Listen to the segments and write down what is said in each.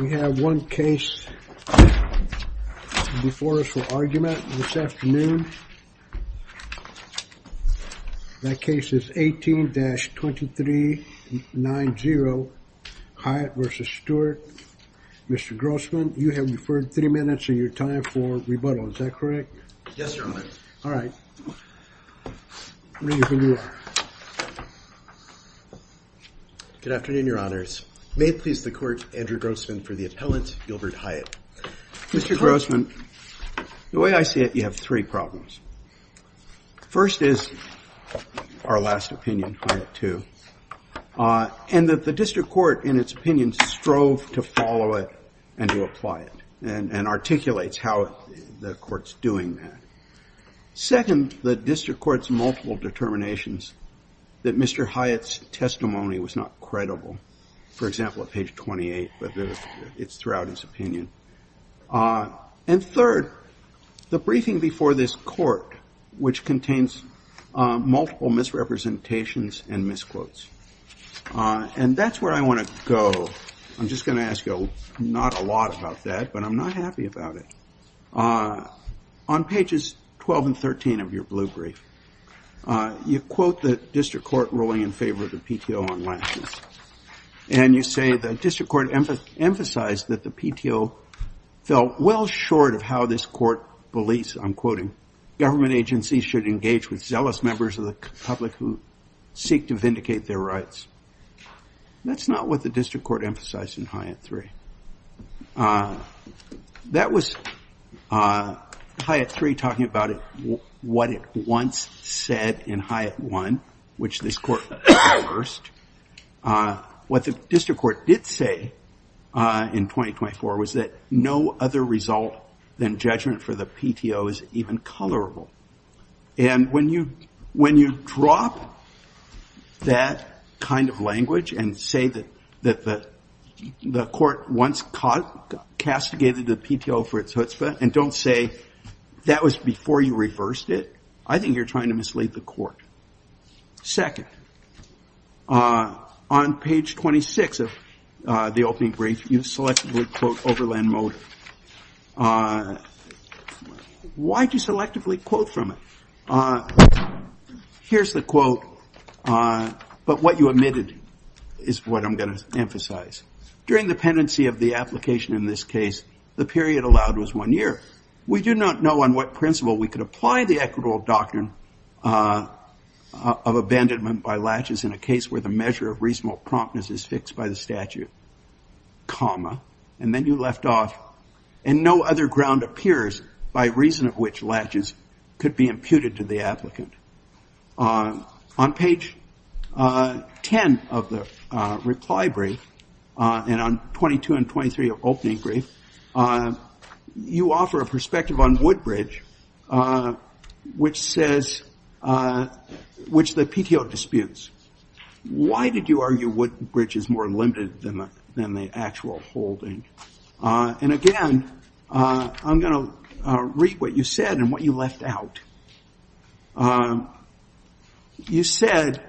We have one case before us for argument this afternoon. That case is 18-2390 Hyatt v. Stewart. Mr. Grossman, you have referred three minutes of your time for rebuttal. Is that correct? Yes, Your Honor. All right. Good afternoon, Your Honors. May it please the Court, Andrew Grossman, for the appellate, Gilbert Hyatt. Mr. Grossman, the way I see it, you have three problems. First is our last opinion, Hyatt 2, and that the District Court, in its opinion, strove to follow it and to apply it and articulates how the Court's doing that. Second, the District Court's multiple determinations that Mr. Hyatt's testimony was not credible, for example, at page 28, but it's throughout his opinion. And third, the briefing before this Court, which contains multiple misrepresentations and misquotes. And that's where I want to go. I'm just going to ask you, not a lot about that, but I'm not happy about it. On pages 12 and 13 of your blue brief, you quote the District Court ruling in favor of the PTO on license. And you say the District Court emphasized that the PTO fell well short of how this Court believes, I'm quoting, government agencies should engage with zealous members of the public who seek to vindicate their rights. That's not what the District Court emphasized in Hyatt 3. That was Hyatt 3 talking about what it once said in Hyatt 1, which this Court reversed. What the District Court did say in 2024 was that no other result than judgment for the PTO is even colorable. And when you drop that kind of language and say that the Court once castigated the PTO for its chutzpah and don't say that was before you reversed it, I think you're trying to mislead the Court. Second, on page 26 of the opening brief, you selectively quote Overland Motor. Why do you selectively quote from it? Here's the quote, but what you omitted is what I'm going to emphasize. During the pendency of the application in this case, the period allowed was one year. We do not know on what principle we could apply the equitable doctrine of abandonment by latches in a case where the measure of reasonable promptness is fixed by the statute, comma, and then you left off, and no other ground appears by reason of which latches could be imputed to the applicant. On page 10 of the reply brief, and on 22 and 23 of opening brief, you offer a perspective on Woodbridge, which the PTO disputes. Why did you argue Woodbridge is more limited than the actual holding? And again, I'm going to read what you said and what you left out. You said,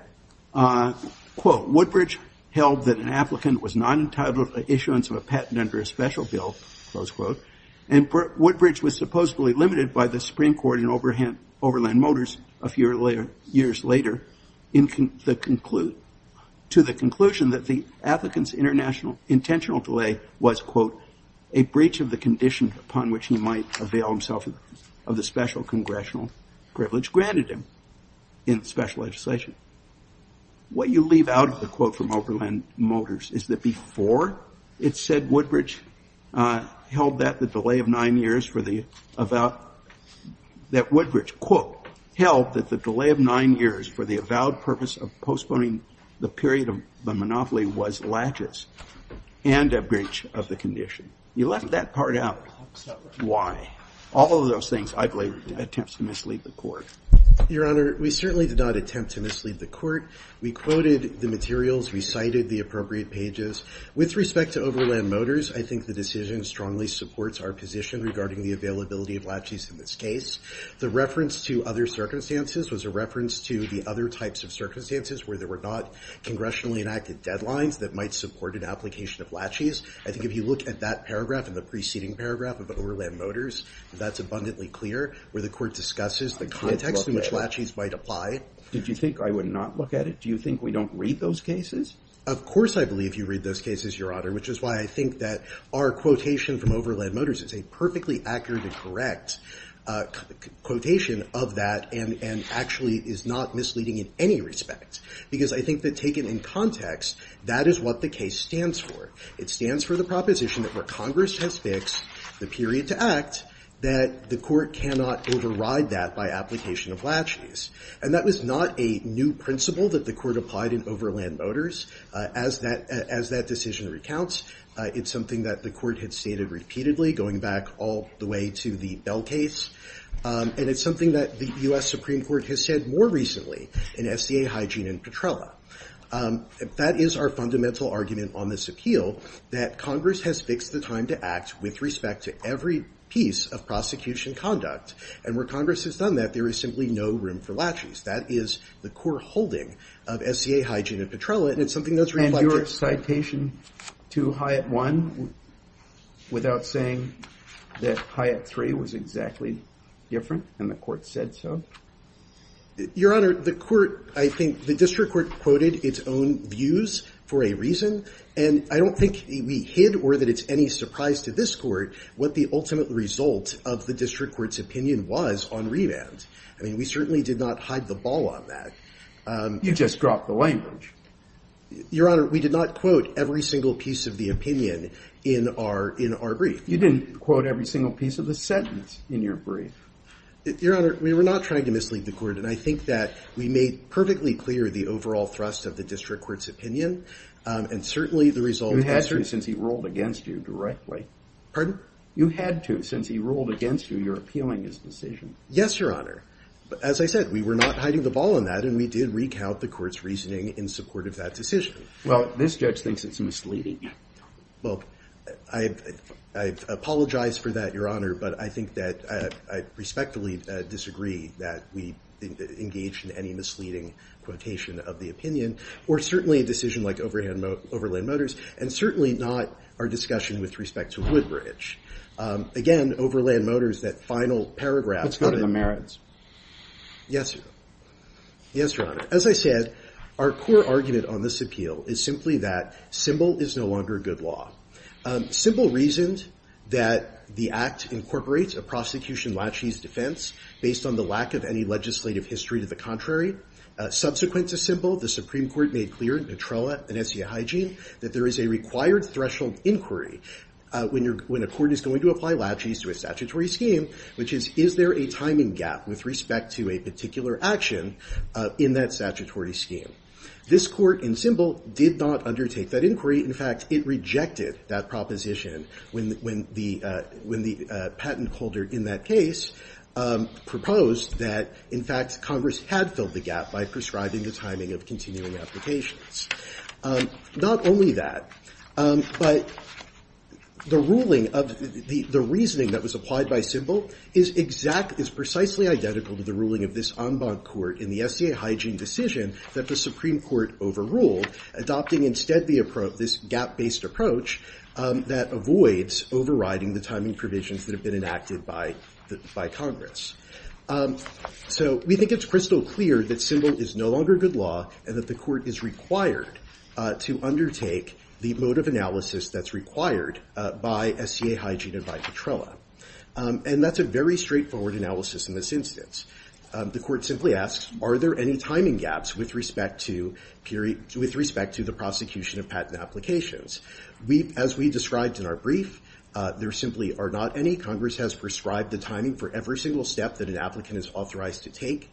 quote, Woodbridge held that an applicant was not entitled to issuance of a patent under a special bill, close quote, and Woodbridge was supposedly limited by the Supreme Court in Overland Motors a few years later to the conclusion that the applicant's intentional delay was quote, a breach of the condition upon which he might avail himself of the special congressional privilege granted him in special legislation. What you leave out of the quote from Overland Motors is that before it said Woodbridge held that the delay of nine years for the avowed, that Woodbridge quote, held that the delay of nine years for the avowed purpose of postponing the period of the monopoly was latches and a breach of the condition. You left that part out. All of those things, I believe, attempt to mislead the court. Your Honor, we certainly did not attempt to mislead the court. We quoted the materials. We cited the appropriate pages. With respect to Overland Motors, I think the decision strongly supports our position regarding the availability of latches in this case. The reference to other circumstances was a reference to the other types of circumstances where there were not congressionally enacted deadlines that might support an application of latches. I think if you look at that paragraph and the preceding paragraph of Overland Motors, that's abundantly clear where the court discusses the context in which latches might apply. Did you think I would not look at it? Do you think we don't read those cases? Of course I believe you read those cases, Your Honor, which is why I think that our quotation from Overland Motors is a perfectly accurate and correct quotation of that and actually is not misleading in any respect. Because I think that taken in context, that is what the case stands for. It stands for the proposition that where Congress has fixed the period to act, that the court cannot override that by application of latches. And that was not a new principle that the court applied in Overland Motors. As that decision recounts, it's something that the court had stated repeatedly going back all the way to the Bell case. And it's something that the US Supreme Court has said more recently in SDA Hygiene and Petrella. That is our fundamental argument on this appeal, that Congress has fixed the time to act with respect to every piece of prosecution conduct. And where Congress has done that, there is simply no room for latches. That is the core holding of SDA Hygiene and Petrella. And it's something that's reflected. And your citation to Hyatt 1 without saying that Hyatt 3 was exactly different and the court said so? Your Honor, the court, I think the district court quoted its own views for a reason. And I don't think we hid or that it's any surprise to this Court what the ultimate result of the district court's opinion was on remand. I mean, we certainly did not hide the ball on that. You just dropped the language. Your Honor, we did not quote every single piece of the opinion in our brief. You didn't quote every single piece of the sentence in your brief. Your Honor, we were not trying to mislead the Court. And I think that we made perfectly clear the overall thrust of the district court's opinion. And certainly the result is true. You had to since he ruled against you directly. Pardon? You had to since he ruled against you. You're appealing his decision. Yes, Your Honor. As I said, we were not hiding the ball on that. And we did recount the Court's reasoning in support of that decision. Well, this judge thinks it's misleading. Well, I apologize for that, Your Honor. But I think that I respectfully disagree that we engaged in any misleading quotation of the opinion. Or certainly a decision like Overland Motors. And certainly not our discussion with respect to Woodbridge. Again, Overland Motors, that final paragraph. Let's go to the merits. Yes, Your Honor. As I said, our core argument on this appeal is simply that Symbol is no longer good law. Symbol reasoned that the Act incorporates a prosecution laches defense based on the lack of any legislative history to the contrary. Subsequent to Symbol, the Supreme Court made clear in Petrola and Essia Hygiene that there is a required threshold inquiry when a court is going to apply laches to a statutory scheme, which is, is there a timing gap with respect to a particular action in that statutory scheme? This Court in Symbol did not undertake that inquiry. In fact, it rejected that proposition when the patent holder in that case proposed that, in fact, Congress had filled the gap by prescribing the timing of continuing applications. Not only that, but the reasoning that was applied by Symbol is precisely identical to the ruling of this en banc court in the Essia Hygiene decision that the Supreme Court overruled, adopting instead this gap-based approach that avoids overriding the timing provisions that have been enacted by Congress. So we think it's crystal clear that Symbol is no longer good law and that the Court is required to undertake the mode of analysis that's required by Essia Hygiene and by Petrola. And that's a very straightforward analysis in this instance. The Court simply asks, are there any timing gaps with respect to the prosecution of patent applications? As we described in our brief, there simply are not any. Congress has prescribed the timing for every single step that an applicant is authorized to take.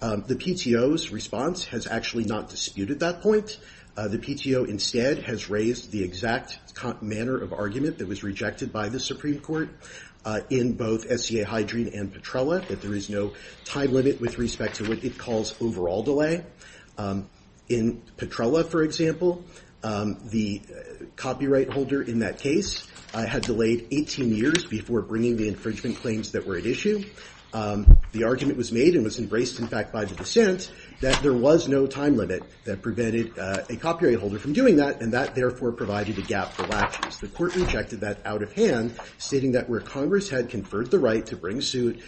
The PTO's response has actually not disputed that point. The PTO instead has raised the exact manner of argument that was rejected by the Supreme Court in both Essia Hygiene and Petrola, that there is no time limit with respect to what it calls overall delay. In Petrola, for example, the copyright holder in that case had delayed 18 years before bringing the infringement claims that were at issue. The argument was made, and was embraced in fact by the dissent, that there was no time limit that prevented a copyright holder from doing that, and that therefore provided a gap for lapses. The Court rejected that out of hand, stating that where Congress had conferred the right to bring suit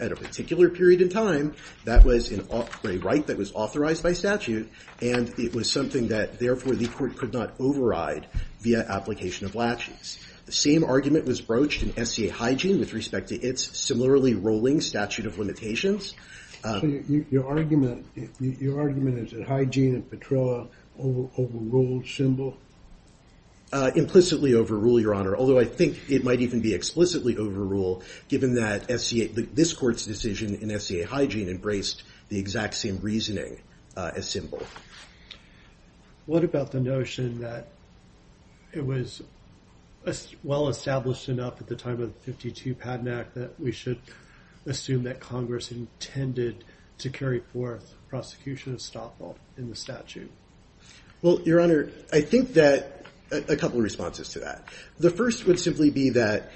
at a particular period in time, that was a right that was authorized by statute, and it was something that therefore the Court could not override via application of laches. The same argument was broached in Essia Hygiene with respect to its similarly rolling statute of limitations. Your argument is that Hygiene and Petrola overrule symbol? Implicitly overrule, Your Honor, although I think it might even be explicitly overrule, given that this Court's decision in Essia Hygiene embraced the exact same reasoning as symbol. What about the notion that it was well established enough at the time of the 52 Paddack that we should assume that Congress intended to carry forth prosecution of stop fault in the statute? Well, Your Honor, I think that a couple of responses to that. The first would simply be that,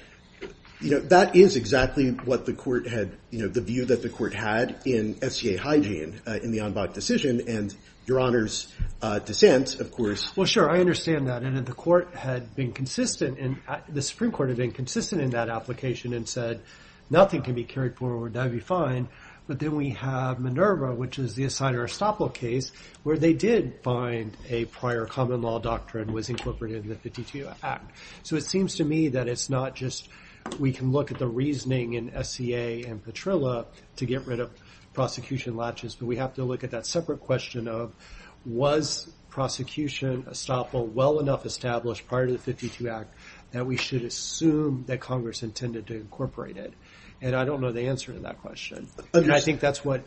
you know, that is exactly what the Court had, you know, the view that the Court had in Essia Hygiene in the Enbach decision, and Your Honor's dissent, of course. Well, sure, I understand that. And if the Supreme Court had been consistent in that application and said, nothing can be carried forward, that would be fine, but then we have Minerva, which is the Assigner Estoppel case where they did find a prior common law doctrine was incorporated in the 52 Act. So it seems to me that it's not just we can look at the reasoning in Essia and Petrola to get rid of prosecution latches, but we have to look at that separate question of was prosecution Estoppel well enough established prior to the 52 Act that we should assume that Congress intended to incorporate it? And I don't know the answer to that question. I think that's what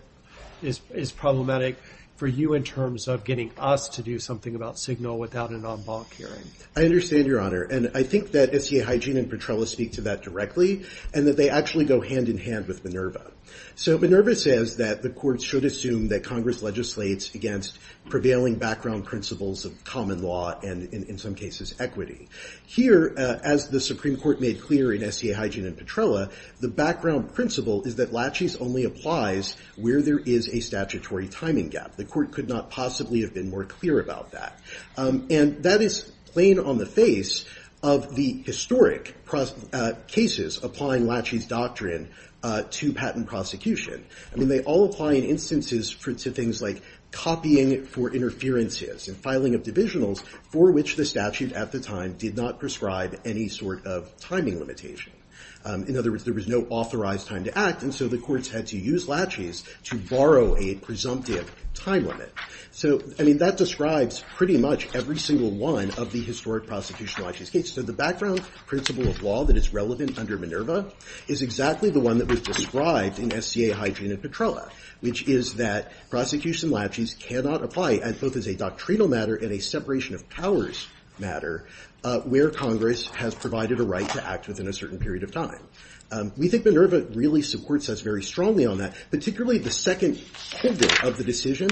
is problematic for you in terms of getting us to do something about Signal without an Enbach hearing. I understand, Your Honor, and I think that Essia Hygiene and Petrola speak to that directly and that they actually go hand in hand with Minerva. So Minerva says that the Court should assume that Congress legislates against prevailing background principles of common law and, in some cases, equity. Here, as the Supreme Court made clear in Essia Hygiene and Petrola, the background principle is that latches only applies where there is a statutory timing gap. The Court could not possibly have been more clear about that. And that is plain on the face of the historic cases applying latches doctrine to patent prosecution. I mean, they all apply in instances to things like copying for interferences and filing of divisionals for which the statute at the time did not prescribe any sort of timing limitation. In other words, there was no authorized time to act, and so the courts had to use latches to borrow a presumptive time limit. So, I mean, that describes pretty much every single one of the historic prosecution latches cases. So the background principle of law that is relevant under Minerva is exactly the one that was described in Essia Hygiene and Petrola, which is that prosecution latches cannot apply, and both as a doctrinal matter and a separation of powers matter, where Congress has provided a right to act within a certain period of time. We think Minerva really supports us very strongly on that, particularly the second pivot of the decision,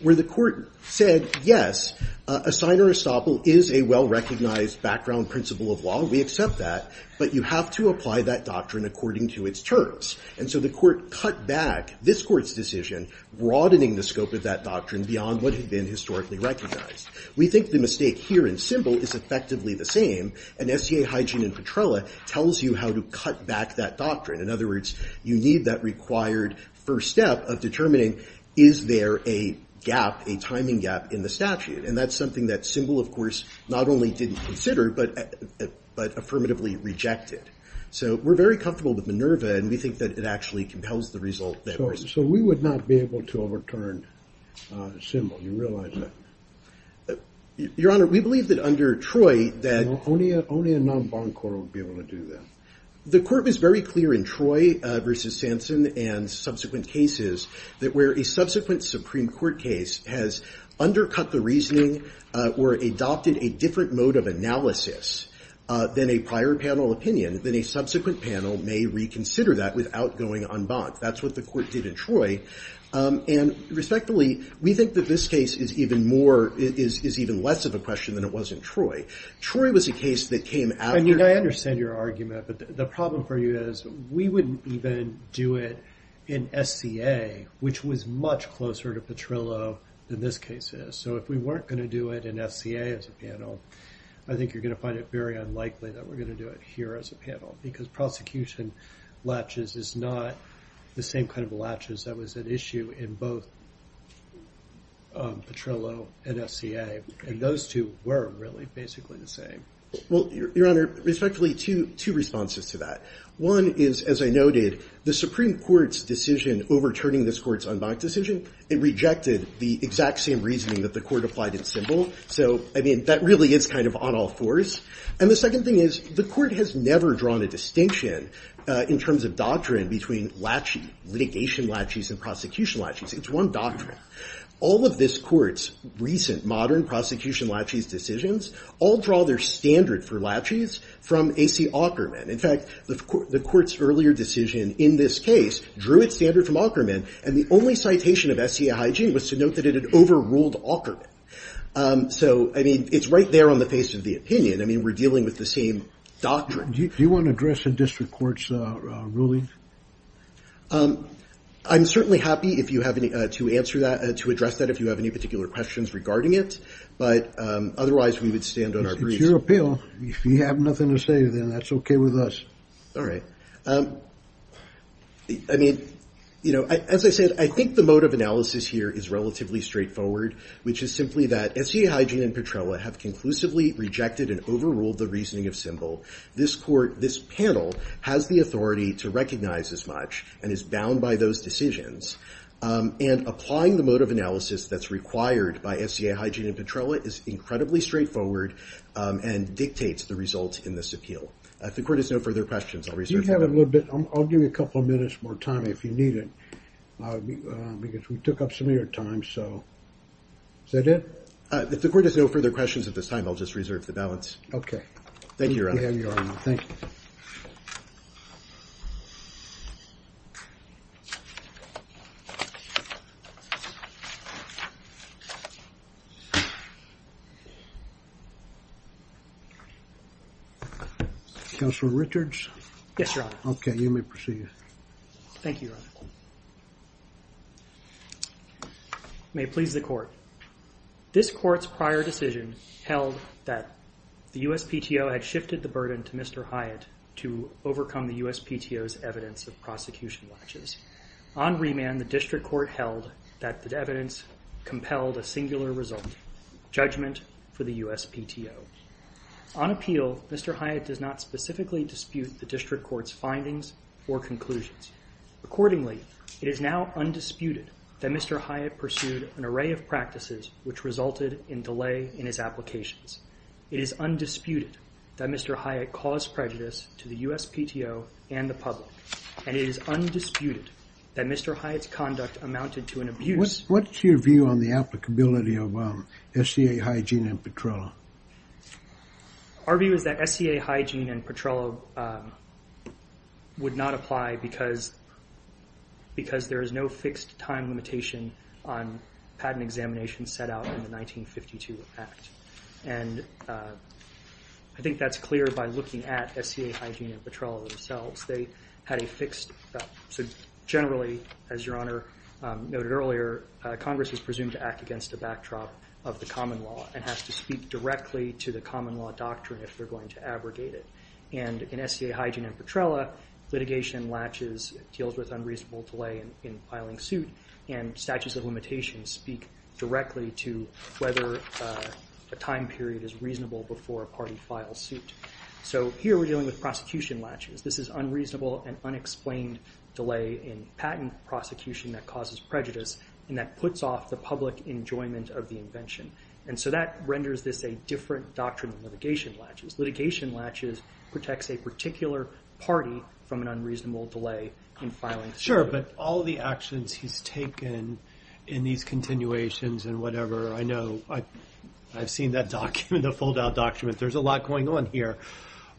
where the Court said, yes, a signer estoppel is a well-recognized background principle of law. We accept that. But you have to apply that doctrine according to its terms. And so the Court cut back this Court's decision, broadening the scope of that doctrine beyond what had been historically recognized. We think the mistake here in Simbel is effectively the same, and Essia Hygiene and Petrola tells you how to cut back that doctrine. In other words, you need that required first step of determining, is there a gap, a timing gap in the statute? And that's something that Simbel, of course, not only didn't consider, but affirmatively rejected. So we're very comfortable with Minerva, and we think that it actually compels the result that we're looking for. So we would not be able to overturn Simbel, you realize that? Your Honor, we believe that under Troy that... Only a non-bond court would be able to do that. The Court was very clear in Troy v. Sampson and subsequent cases that where a subsequent Supreme Court case has undercut the reasoning or adopted a different mode of analysis than a prior panel opinion, then a subsequent panel may reconsider that without going en banc. That's what the Court did in Troy. And respectfully, we think that this case is even more, is even less of a question than it was in Troy. Troy was a case that came after... I mean, I understand your argument, but the problem for you is we wouldn't even do it in SCA, which was much closer to Petrillo than this case is. So if we weren't going to do it in SCA as a panel, I think you're going to find it very unlikely that we're going to do it here as a panel because prosecution latches is not the same kind of latches that was at issue in both Petrillo and SCA. And those two were really basically the same. Well, Your Honor, respectfully, two responses to that. One is, as I noted, the Supreme Court's decision overturning this Court's en banc decision, it rejected the exact same reasoning that the Court applied in Simbel. So, I mean, that really is kind of on all fours. And the second thing is the Court has never drawn a distinction in terms of doctrine between latches, litigation latches and prosecution latches. It's one doctrine. All of this Court's recent modern prosecution latches decisions all draw their standard for latches from A.C. Aukerman. In fact, the Court's earlier decision in this case drew its standard from Aukerman, and the only citation of SCA hygiene was to note that it had overruled Aukerman. So, I mean, it's right there on the face of the opinion. I mean, we're dealing with the same doctrine. Do you want to address the district court's ruling? I'm certainly happy to address that if you have any particular questions regarding it, but otherwise we would stand on our reasons. It's your appeal. If you have nothing to say, then that's okay with us. All right. I mean, you know, as I said, I think the mode of analysis here is relatively straightforward, which is simply that SCA hygiene and Petrella have conclusively rejected and overruled the reasoning of Symbol. This Court, this panel, has the authority to recognize as much and is bound by those decisions. And applying the mode of analysis that's required by SCA hygiene and Petrella is incredibly straightforward and dictates the result in this appeal. If the Court has no further questions, I'll resume. We have a little bit. I'll give you a couple of minutes more time if you need it because we took up some of your time. So is that it? If the Court has no further questions at this time, I'll just reserve the balance. Thank you, Your Honor. Thank you. Counselor Richards? Yes, Your Honor. Okay, you may proceed. Thank you, Your Honor. May it please the Court. This Court's prior decision held that the USPTO had shifted the burden to Mr. Hyatt to overcome the USPTO's evidence of prosecution latches. On remand, the District Court held that the evidence compelled a singular result, judgment for the USPTO. On appeal, Mr. Hyatt does not specifically dispute the District Court's findings or conclusions. Accordingly, it is now undisputed that Mr. Hyatt pursued an array of practices which resulted in delay in his applications. It is undisputed that Mr. Hyatt caused prejudice to the USPTO and the public, and it is undisputed that Mr. Hyatt's conduct amounted to an abuse. What's your view on the applicability of SCA hygiene and Petrello? Our view is that SCA hygiene and Petrello would not apply because there is no fixed time limitation on patent examinations set out in the 1952 Act. I think that's clear by looking at SCA hygiene and Petrello themselves. Generally, as Your Honor noted earlier, Congress is presumed to act against the backdrop of the common law and has to speak directly to the common law doctrine if they're going to abrogate it. In SCA hygiene and Petrello, litigation latches, deals with unreasonable delay in filing suit, and statutes of limitations speak directly to whether a time period is reasonable before a party files suit. So here we're dealing with prosecution latches. This is unreasonable and unexplained delay in patent prosecution that causes prejudice and that puts off the public enjoyment of the invention. And so that renders this a different doctrine than litigation latches. Litigation latches protects a particular party from an unreasonable delay in filing suit. Sure, but all the actions he's taken in these continuations and whatever, I know, I've seen that document, the fold-out document. There's a lot going on here.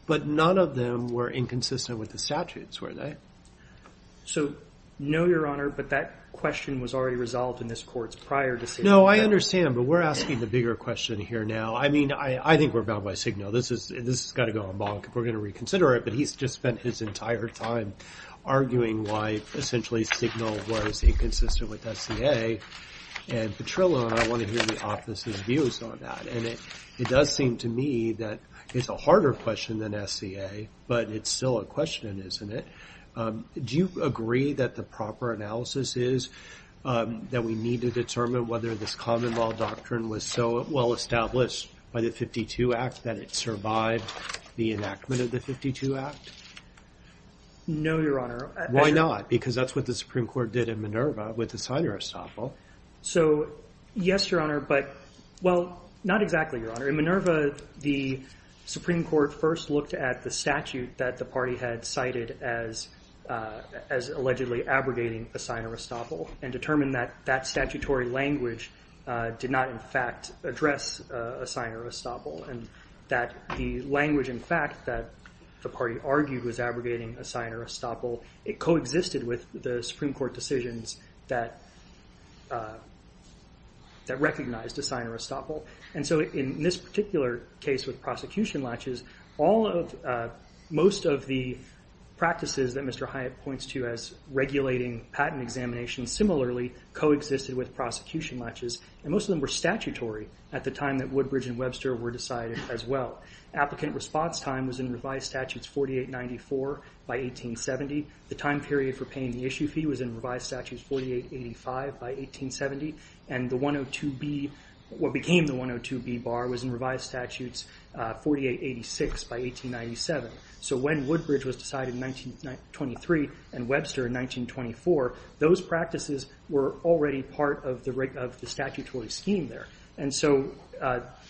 But none of them were inconsistent with the statutes, were they? So, no, Your Honor, but that question was already resolved in this court's prior decision. No, I understand, but we're asking the bigger question here now. I mean, I think we're bound by Signal. This has got to go on bonk if we're going to reconsider it, but he's just spent his entire time arguing why essentially Signal was inconsistent with SCA and Petrillo, and I want to hear the office's views on that. And it does seem to me that it's a harder question than SCA, but it's still a question, isn't it? Do you agree that the proper analysis is that we need to determine whether this common law doctrine was so well established by the 52 Act that it survived the enactment of the 52 Act? No, Your Honor. Why not? Because that's what the Supreme Court did in Minerva with Assignore Estoppel. So, yes, Your Honor, but, well, not exactly, Your Honor. In Minerva, the Supreme Court first looked at the statute that the party had cited as allegedly abrogating Assignore Estoppel and determined that that statutory language did not, in fact, address Assignore Estoppel and that the language, in fact, that the party argued was abrogating Assignore Estoppel, it coexisted with the Supreme Court decisions that recognized Assignore Estoppel. And so in this particular case with prosecution latches, most of the practices that Mr. Hyatt points to as regulating patent examinations similarly coexisted with prosecution latches, and most of them were statutory at the time that Woodbridge and Webster were decided as well. Applicant response time was in revised statutes 4894 by 1870. The time period for paying the issue fee was in revised statutes 4885 by 1870. And the 102B, what became the 102B bar, was in revised statutes 4886 by 1897. So when Woodbridge was decided in 1923 and Webster in 1924, those practices were already part of the statutory scheme there. And so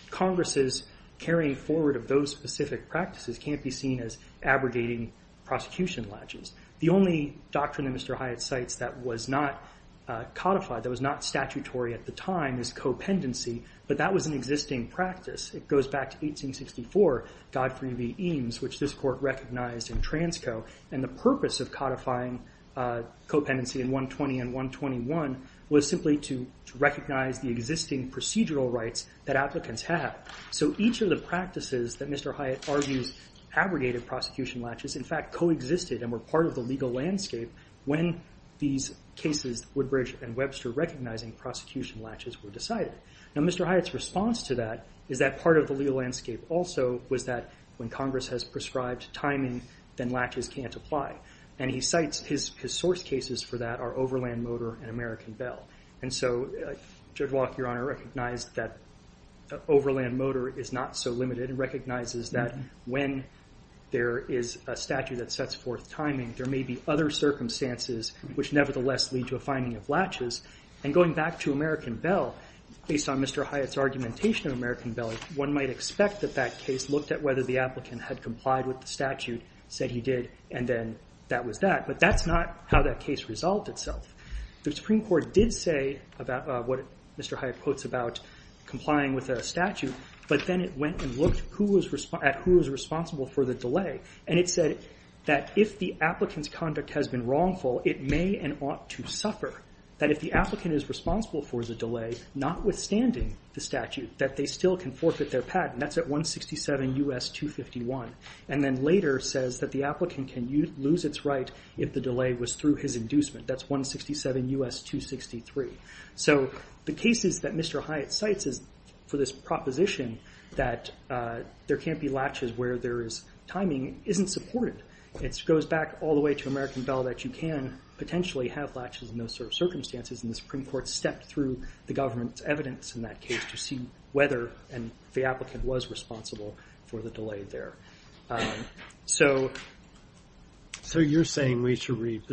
Congress's carrying forward of those specific practices can't be seen as abrogating prosecution latches. The only doctrine that Mr. Hyatt cites that was not codified, that was not statutory at the time, is copendency, but that was an existing practice. It goes back to 1864, Godfrey v. Eames, which this court recognized in transco, and the purpose of codifying copendency in 120 and 121 was simply to recognize the existing procedural rights that applicants have. So each of the practices that Mr. Hyatt argues abrogated prosecution latches in fact coexisted and were part of the legal landscape when these cases, Woodbridge and Webster recognizing prosecution latches, were decided. Now Mr. Hyatt's response to that is that part of the legal landscape also was that when Congress has prescribed timing, then latches can't apply. And he cites his source cases for that are Overland Motor and American Bell. And so Judge Walke, Your Honor, recognized that Overland Motor is not so limited and recognizes that when there is a statute that sets forth timing, there may be other circumstances which nevertheless lead to a finding of latches. And going back to American Bell, based on Mr. Hyatt's argumentation of American Bell, one might expect that that case looked at whether the applicant had complied with the statute, said he did, and then that was that. But that's not how that case resolved itself. The Supreme Court did say about what Mr. Hyatt quotes about complying with a statute, but then it went and looked at who was responsible for the delay. And it said that if the applicant's conduct has been wrongful, it may and ought to suffer that if the applicant is responsible for the delay, notwithstanding the statute, that they still can forfeit their patent. That's at 167 U.S. 251. And then later says that the applicant can lose its right if the delay was through his inducement. That's 167 U.S. 263. So the cases that Mr. Hyatt cites for this proposition that there can't be latches where there is timing isn't supported. It goes back all the way to American Bell that you can potentially have latches in those circumstances, and the Supreme Court stepped through the government's evidence in that case to see whether the applicant was responsible for the delay there. So you're saying we should read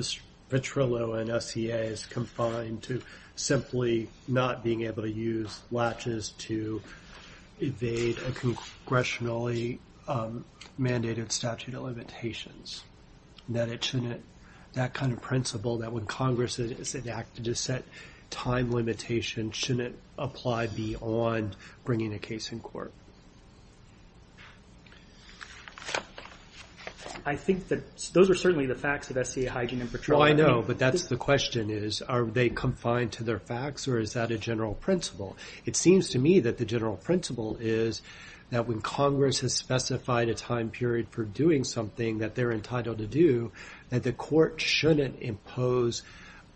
Petrillo and SCA as confined to simply not being able to use latches to evade a congressionally mandated statute of limitations, that it shouldn't, that kind of principle that when Congress is enacted to set time limitations, shouldn't apply beyond bringing a case in court? I think that those are certainly the facts of SCA Hygiene and Petrillo. Oh, I know, but that's the question is, are they confined to their facts or is that a general principle? It seems to me that the general principle is that when Congress has specified a time period for doing something that they're entitled to do, that the court shouldn't impose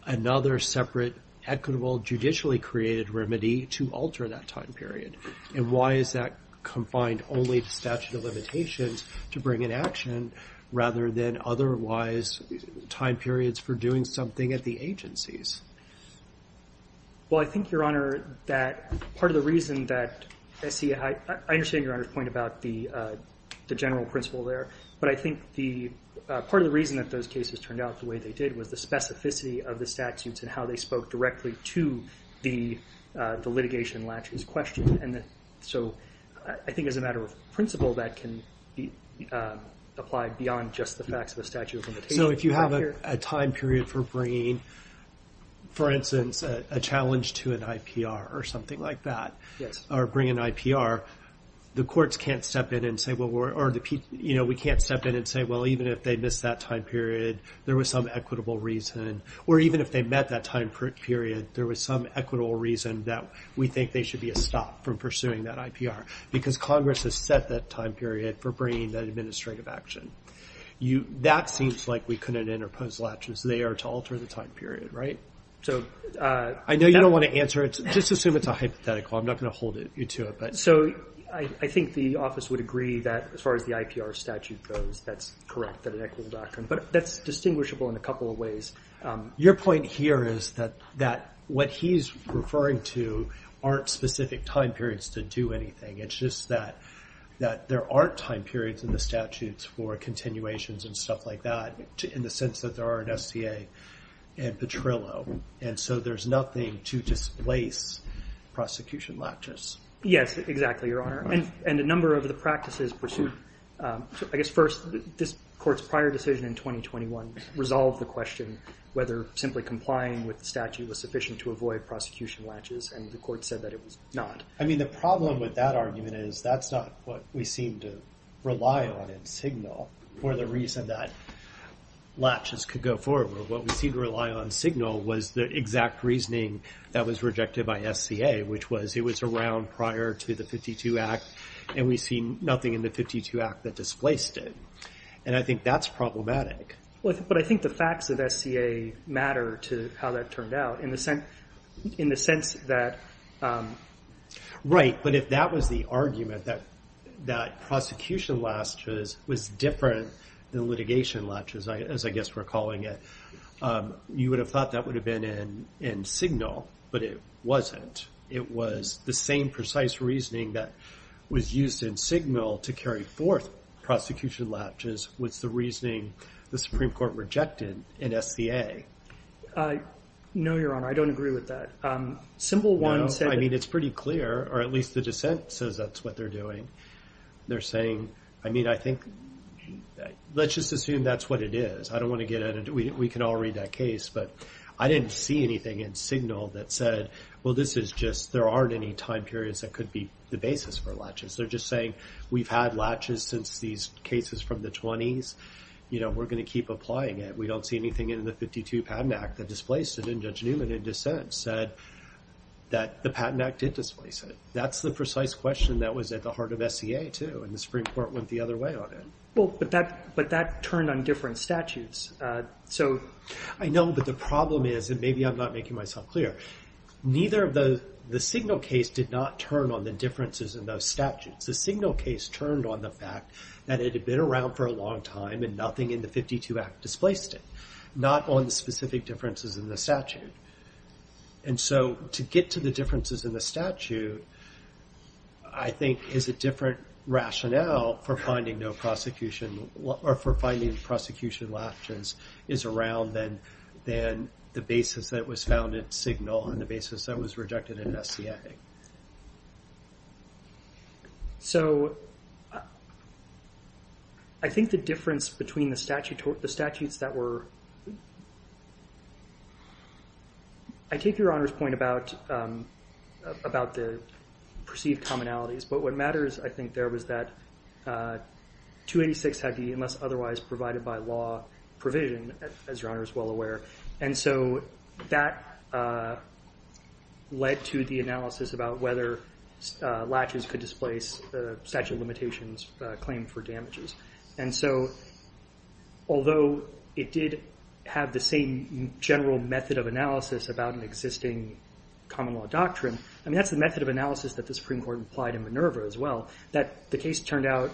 another separate equitable judicially created remedy to alter that time period. And why is that confined only to statute of limitations to bring in action, rather than otherwise time periods for doing something at the agencies? Well, I think, Your Honor, that part of the reason that SCA Hygiene, I understand Your Honor's point about the general principle there, but I think part of the reason that those cases turned out the way they did was the specificity of the statutes and how they spoke directly to the litigation latches question. And so I think as a matter of principle, that can apply beyond just the facts of a statute of limitations. So if you have a time period for bringing, for instance, a challenge to an IPR or something like that, or bring an IPR, the courts can't step in and say, well, we can't step in and say, well, even if they missed that time period, there was some equitable reason. Or even if they met that time period, there was some equitable reason that we think they should be stopped from pursuing that IPR because Congress has set that time period for bringing that administrative action. That seems like we couldn't interpose latches there to alter the time period, right? I know you don't want to answer it. Just assume it's a hypothetical. I'm not going to hold you to it. So I think the office would agree that as far as the IPR statute goes, that's correct, that an equitable doctrine. But that's distinguishable in a couple of ways. Your point here is that what he's referring to aren't specific time periods to do anything. It's just that there aren't time periods in the statutes for continuations and stuff like that, in the sense that there are in SCA and Petrillo. And so there's nothing to displace prosecution latches. Yes, exactly, Your Honor. And a number of the practices pursued, I guess first, this court's prior decision in 2021 resolved the question whether simply complying with the statute was sufficient to avoid prosecution latches. And the court said that it was not. I mean, the problem with that argument is that's not what we seem to rely on and signal. For the reason that latches could go forward. What we seem to rely on signal was the exact reasoning that was rejected by SCA, which was it was around prior to the 52 Act and we see nothing in the 52 Act that displaced it. And I think that's problematic. But I think the facts of SCA matter to how that turned out in the sense that. Right. But if that was the argument that that prosecution latches was different than litigation latches, as I guess we're calling it, you would have thought that would have been in signal, but it wasn't. It was the same precise reasoning that was used in signal to carry forth prosecution latches, was the reasoning the Supreme Court rejected in SCA. No, Your Honor, I don't agree with that. Simple one. I mean, it's pretty clear, or at least the dissent says that's what they're doing. They're saying, I mean, I think let's just assume that's what it is. I don't want to get into it. We can all read that case. But I didn't see anything in signal that said, well, this is just there aren't any time periods that could be the basis for latches. They're just saying we've had latches since these cases from the 20s. You know, we're going to keep applying it. We don't see anything in the 52 Patent Act that displaced it. And Judge Newman, in dissent, said that the Patent Act did displace it. That's the precise question that was at the heart of SCA, too. And the Supreme Court went the other way on it. Well, but that turned on different statutes. I know, but the problem is, and maybe I'm not making myself clear, neither of the signal case did not turn on the differences in those statutes. The signal case turned on the fact that it had been around for a long time and nothing in the 52 Act displaced it, not on the specific differences in the statute. And so to get to the differences in the statute, I think, is a different rationale for finding no prosecution, So I think the difference between the statutes that were— I take Your Honor's point about the perceived commonalities. But what matters, I think, there was that 286 had the unless otherwise provided by law provision, as Your Honor is well aware. And so that led to the analysis about whether latches could displace the statute of limitations claim for damages. And so although it did have the same general method of analysis about an existing common law doctrine, I mean, that's the method of analysis that the Supreme Court applied in Minerva as well, that the case turned out—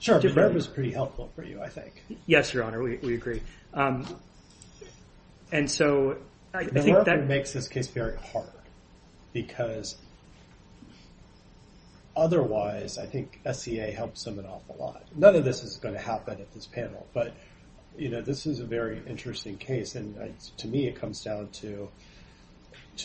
Sure, Minerva's pretty helpful for you, I think. Yes, Your Honor, we agree. And so I think that— Minerva makes this case very hard because otherwise, I think, SCA helps them an awful lot. None of this is going to happen at this panel. But, you know, this is a very interesting case. And to me, it comes down to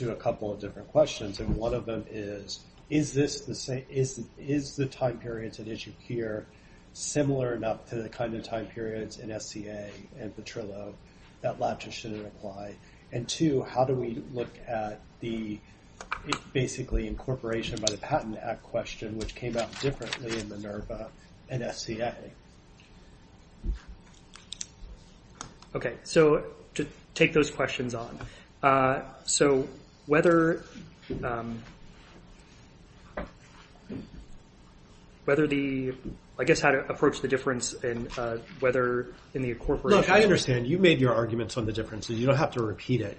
a couple of different questions. And one of them is, is the time period at issue here similar enough to the kind of time periods in SCA and Petrillo that latches shouldn't apply? And two, how do we look at the basically incorporation by the Patent Act question, which came out differently in Minerva and SCA? Okay, so to take those questions on. So whether the—I guess how to approach the difference in whether in the incorporation— Look, I understand you made your arguments on the differences. You don't have to repeat it.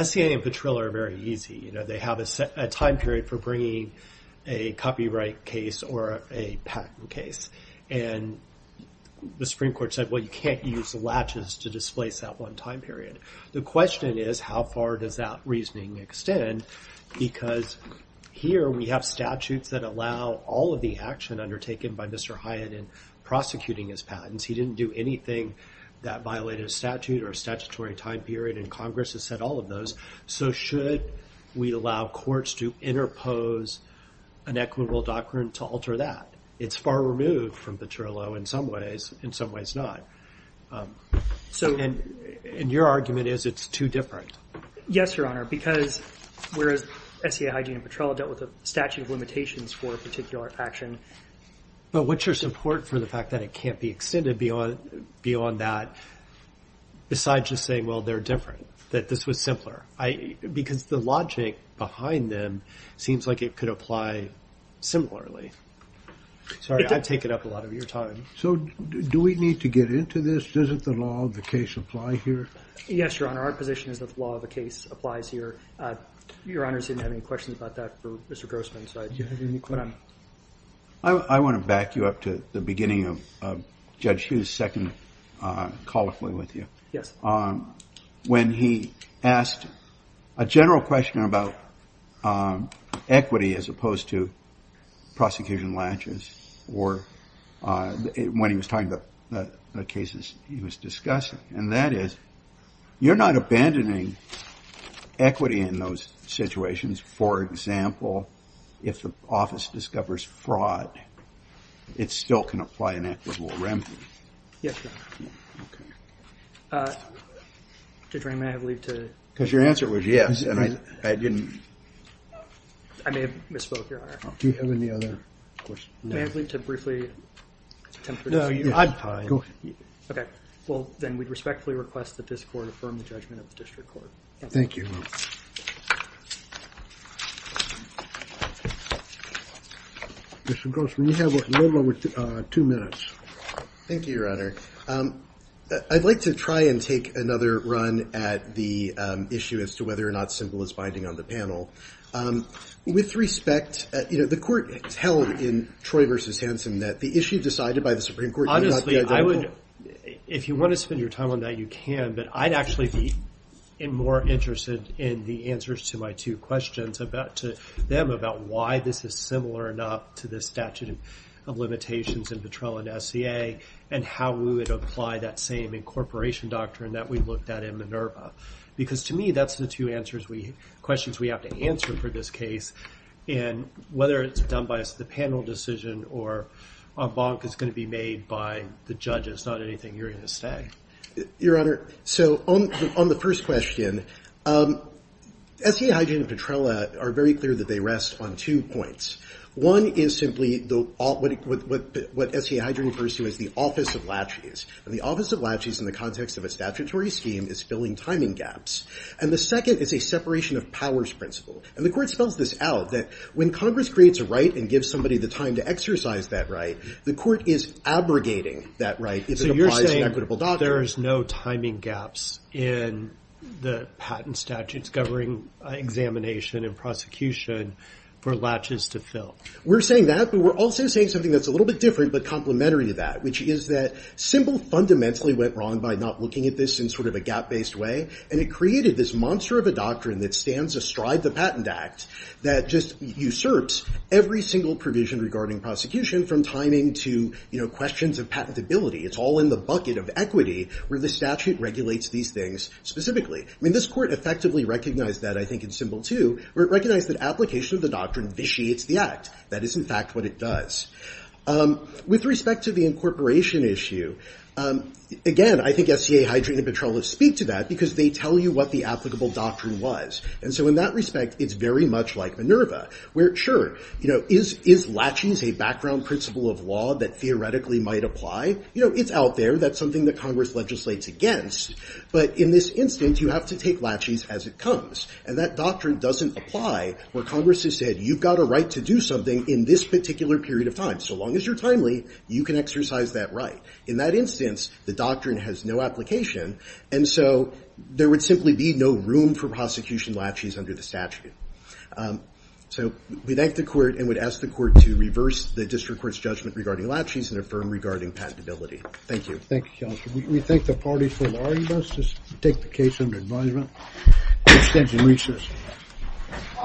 SCA and Petrillo are very easy. You know, they have a time period for bringing a copyright case or a patent case. And the Supreme Court said, well, you can't use latches to displace that one time period. The question is, how far does that reasoning extend? Because here we have statutes that allow all of the action undertaken by Mr. Hyatt in prosecuting his patents. He didn't do anything that violated a statute or a statutory time period. And Congress has said all of those. So should we allow courts to interpose an equitable doctrine to alter that? It's far removed from Petrillo in some ways, in some ways not. And your argument is it's too different. Yes, Your Honor, because whereas SCA, Hyatt, and Petrillo dealt with a statute of limitations for a particular action. But what's your support for the fact that it can't be extended beyond that? Besides just saying, well, they're different, that this was simpler. Because the logic behind them seems like it could apply similarly. Sorry, I take it up a lot of your time. So do we need to get into this? Doesn't the law of the case apply here? Yes, Your Honor. Our position is that the law of the case applies here. Your Honor didn't have any questions about that for Mr. Grossman. I want to back you up to the beginning of Judge Hughes' second colloquy with you. Yes. When he asked a general question about equity as opposed to prosecution latches, or when he was talking about the cases he was discussing. And that is, you're not abandoning equity in those situations. For example, if the office discovers fraud, it still can apply an equitable remedy. Yes, Your Honor. OK. Judge Ray, may I have leave to? Because your answer was yes, and I didn't. I may have misspoke, Your Honor. Do you have any other questions? May I have leave to briefly attempt to resume? No, you have time. OK. Well, then we'd respectfully request that this court affirm the judgment of the district court. Thank you. Mr. Grossman, you have a little over two minutes. Thank you, Your Honor. I'd like to try and take another run at the issue as to whether or not simple is binding on the panel. With respect, you know, the court held in Troy v. Hansen that the issue decided by the Supreme Court Honestly, I would, if you want to spend your time on that, you can. But I'd actually be more interested in the answers to my two questions about, to them, about why this is similar enough to the statute of limitations in Petrella and SCA, and how we would apply that same incorporation doctrine that we looked at in Minerva. Because to me, that's the two questions we have to answer for this case, and whether it's done by the panel decision or a bonk is going to be made by the judges, not anything you're going to say. Your Honor, so on the first question, SCA Hydrogen and Petrella are very clear that they rest on two points. One is simply what SCA Hydrogen refers to as the office of latches. And the office of latches in the context of a statutory scheme is filling timing gaps. And the second is a separation of powers principle. And the court spells this out, that when Congress creates a right and gives somebody the time to exercise that right, the court is abrogating that right if it applies to an equitable doctrine. There's no timing gaps in the patent statutes covering examination and prosecution for latches to fill. We're saying that, but we're also saying something that's a little bit different but complementary to that, which is that Simbel fundamentally went wrong by not looking at this in sort of a gap-based way. And it created this monster of a doctrine that stands astride the Patent Act that just usurps every single provision regarding prosecution, from timing to questions of patentability. It's all in the bucket of equity where the statute regulates these things specifically. I mean, this court effectively recognized that, I think, in Simbel, too, where it recognized that application of the doctrine vitiates the act. That is, in fact, what it does. With respect to the incorporation issue, again, I think SCA Hydrogen and Petrolus speak to that because they tell you what the applicable doctrine was. And so in that respect, it's very much like Minerva, where, sure, is latches a background principle of law that theoretically might apply? You know, it's out there. That's something that Congress legislates against. But in this instance, you have to take latches as it comes. And that doctrine doesn't apply where Congress has said, you've got a right to do something in this particular period of time. So long as you're timely, you can exercise that right. In that instance, the doctrine has no application. And so there would simply be no room for prosecution latches under the statute. So we thank the Court and would ask the Court to reverse the District Court's judgment regarding latches and affirm regarding patentability. Thank you. Thank you, Counselor. We thank the parties for the argument. Let's just take the case under advisement. Thank you very much.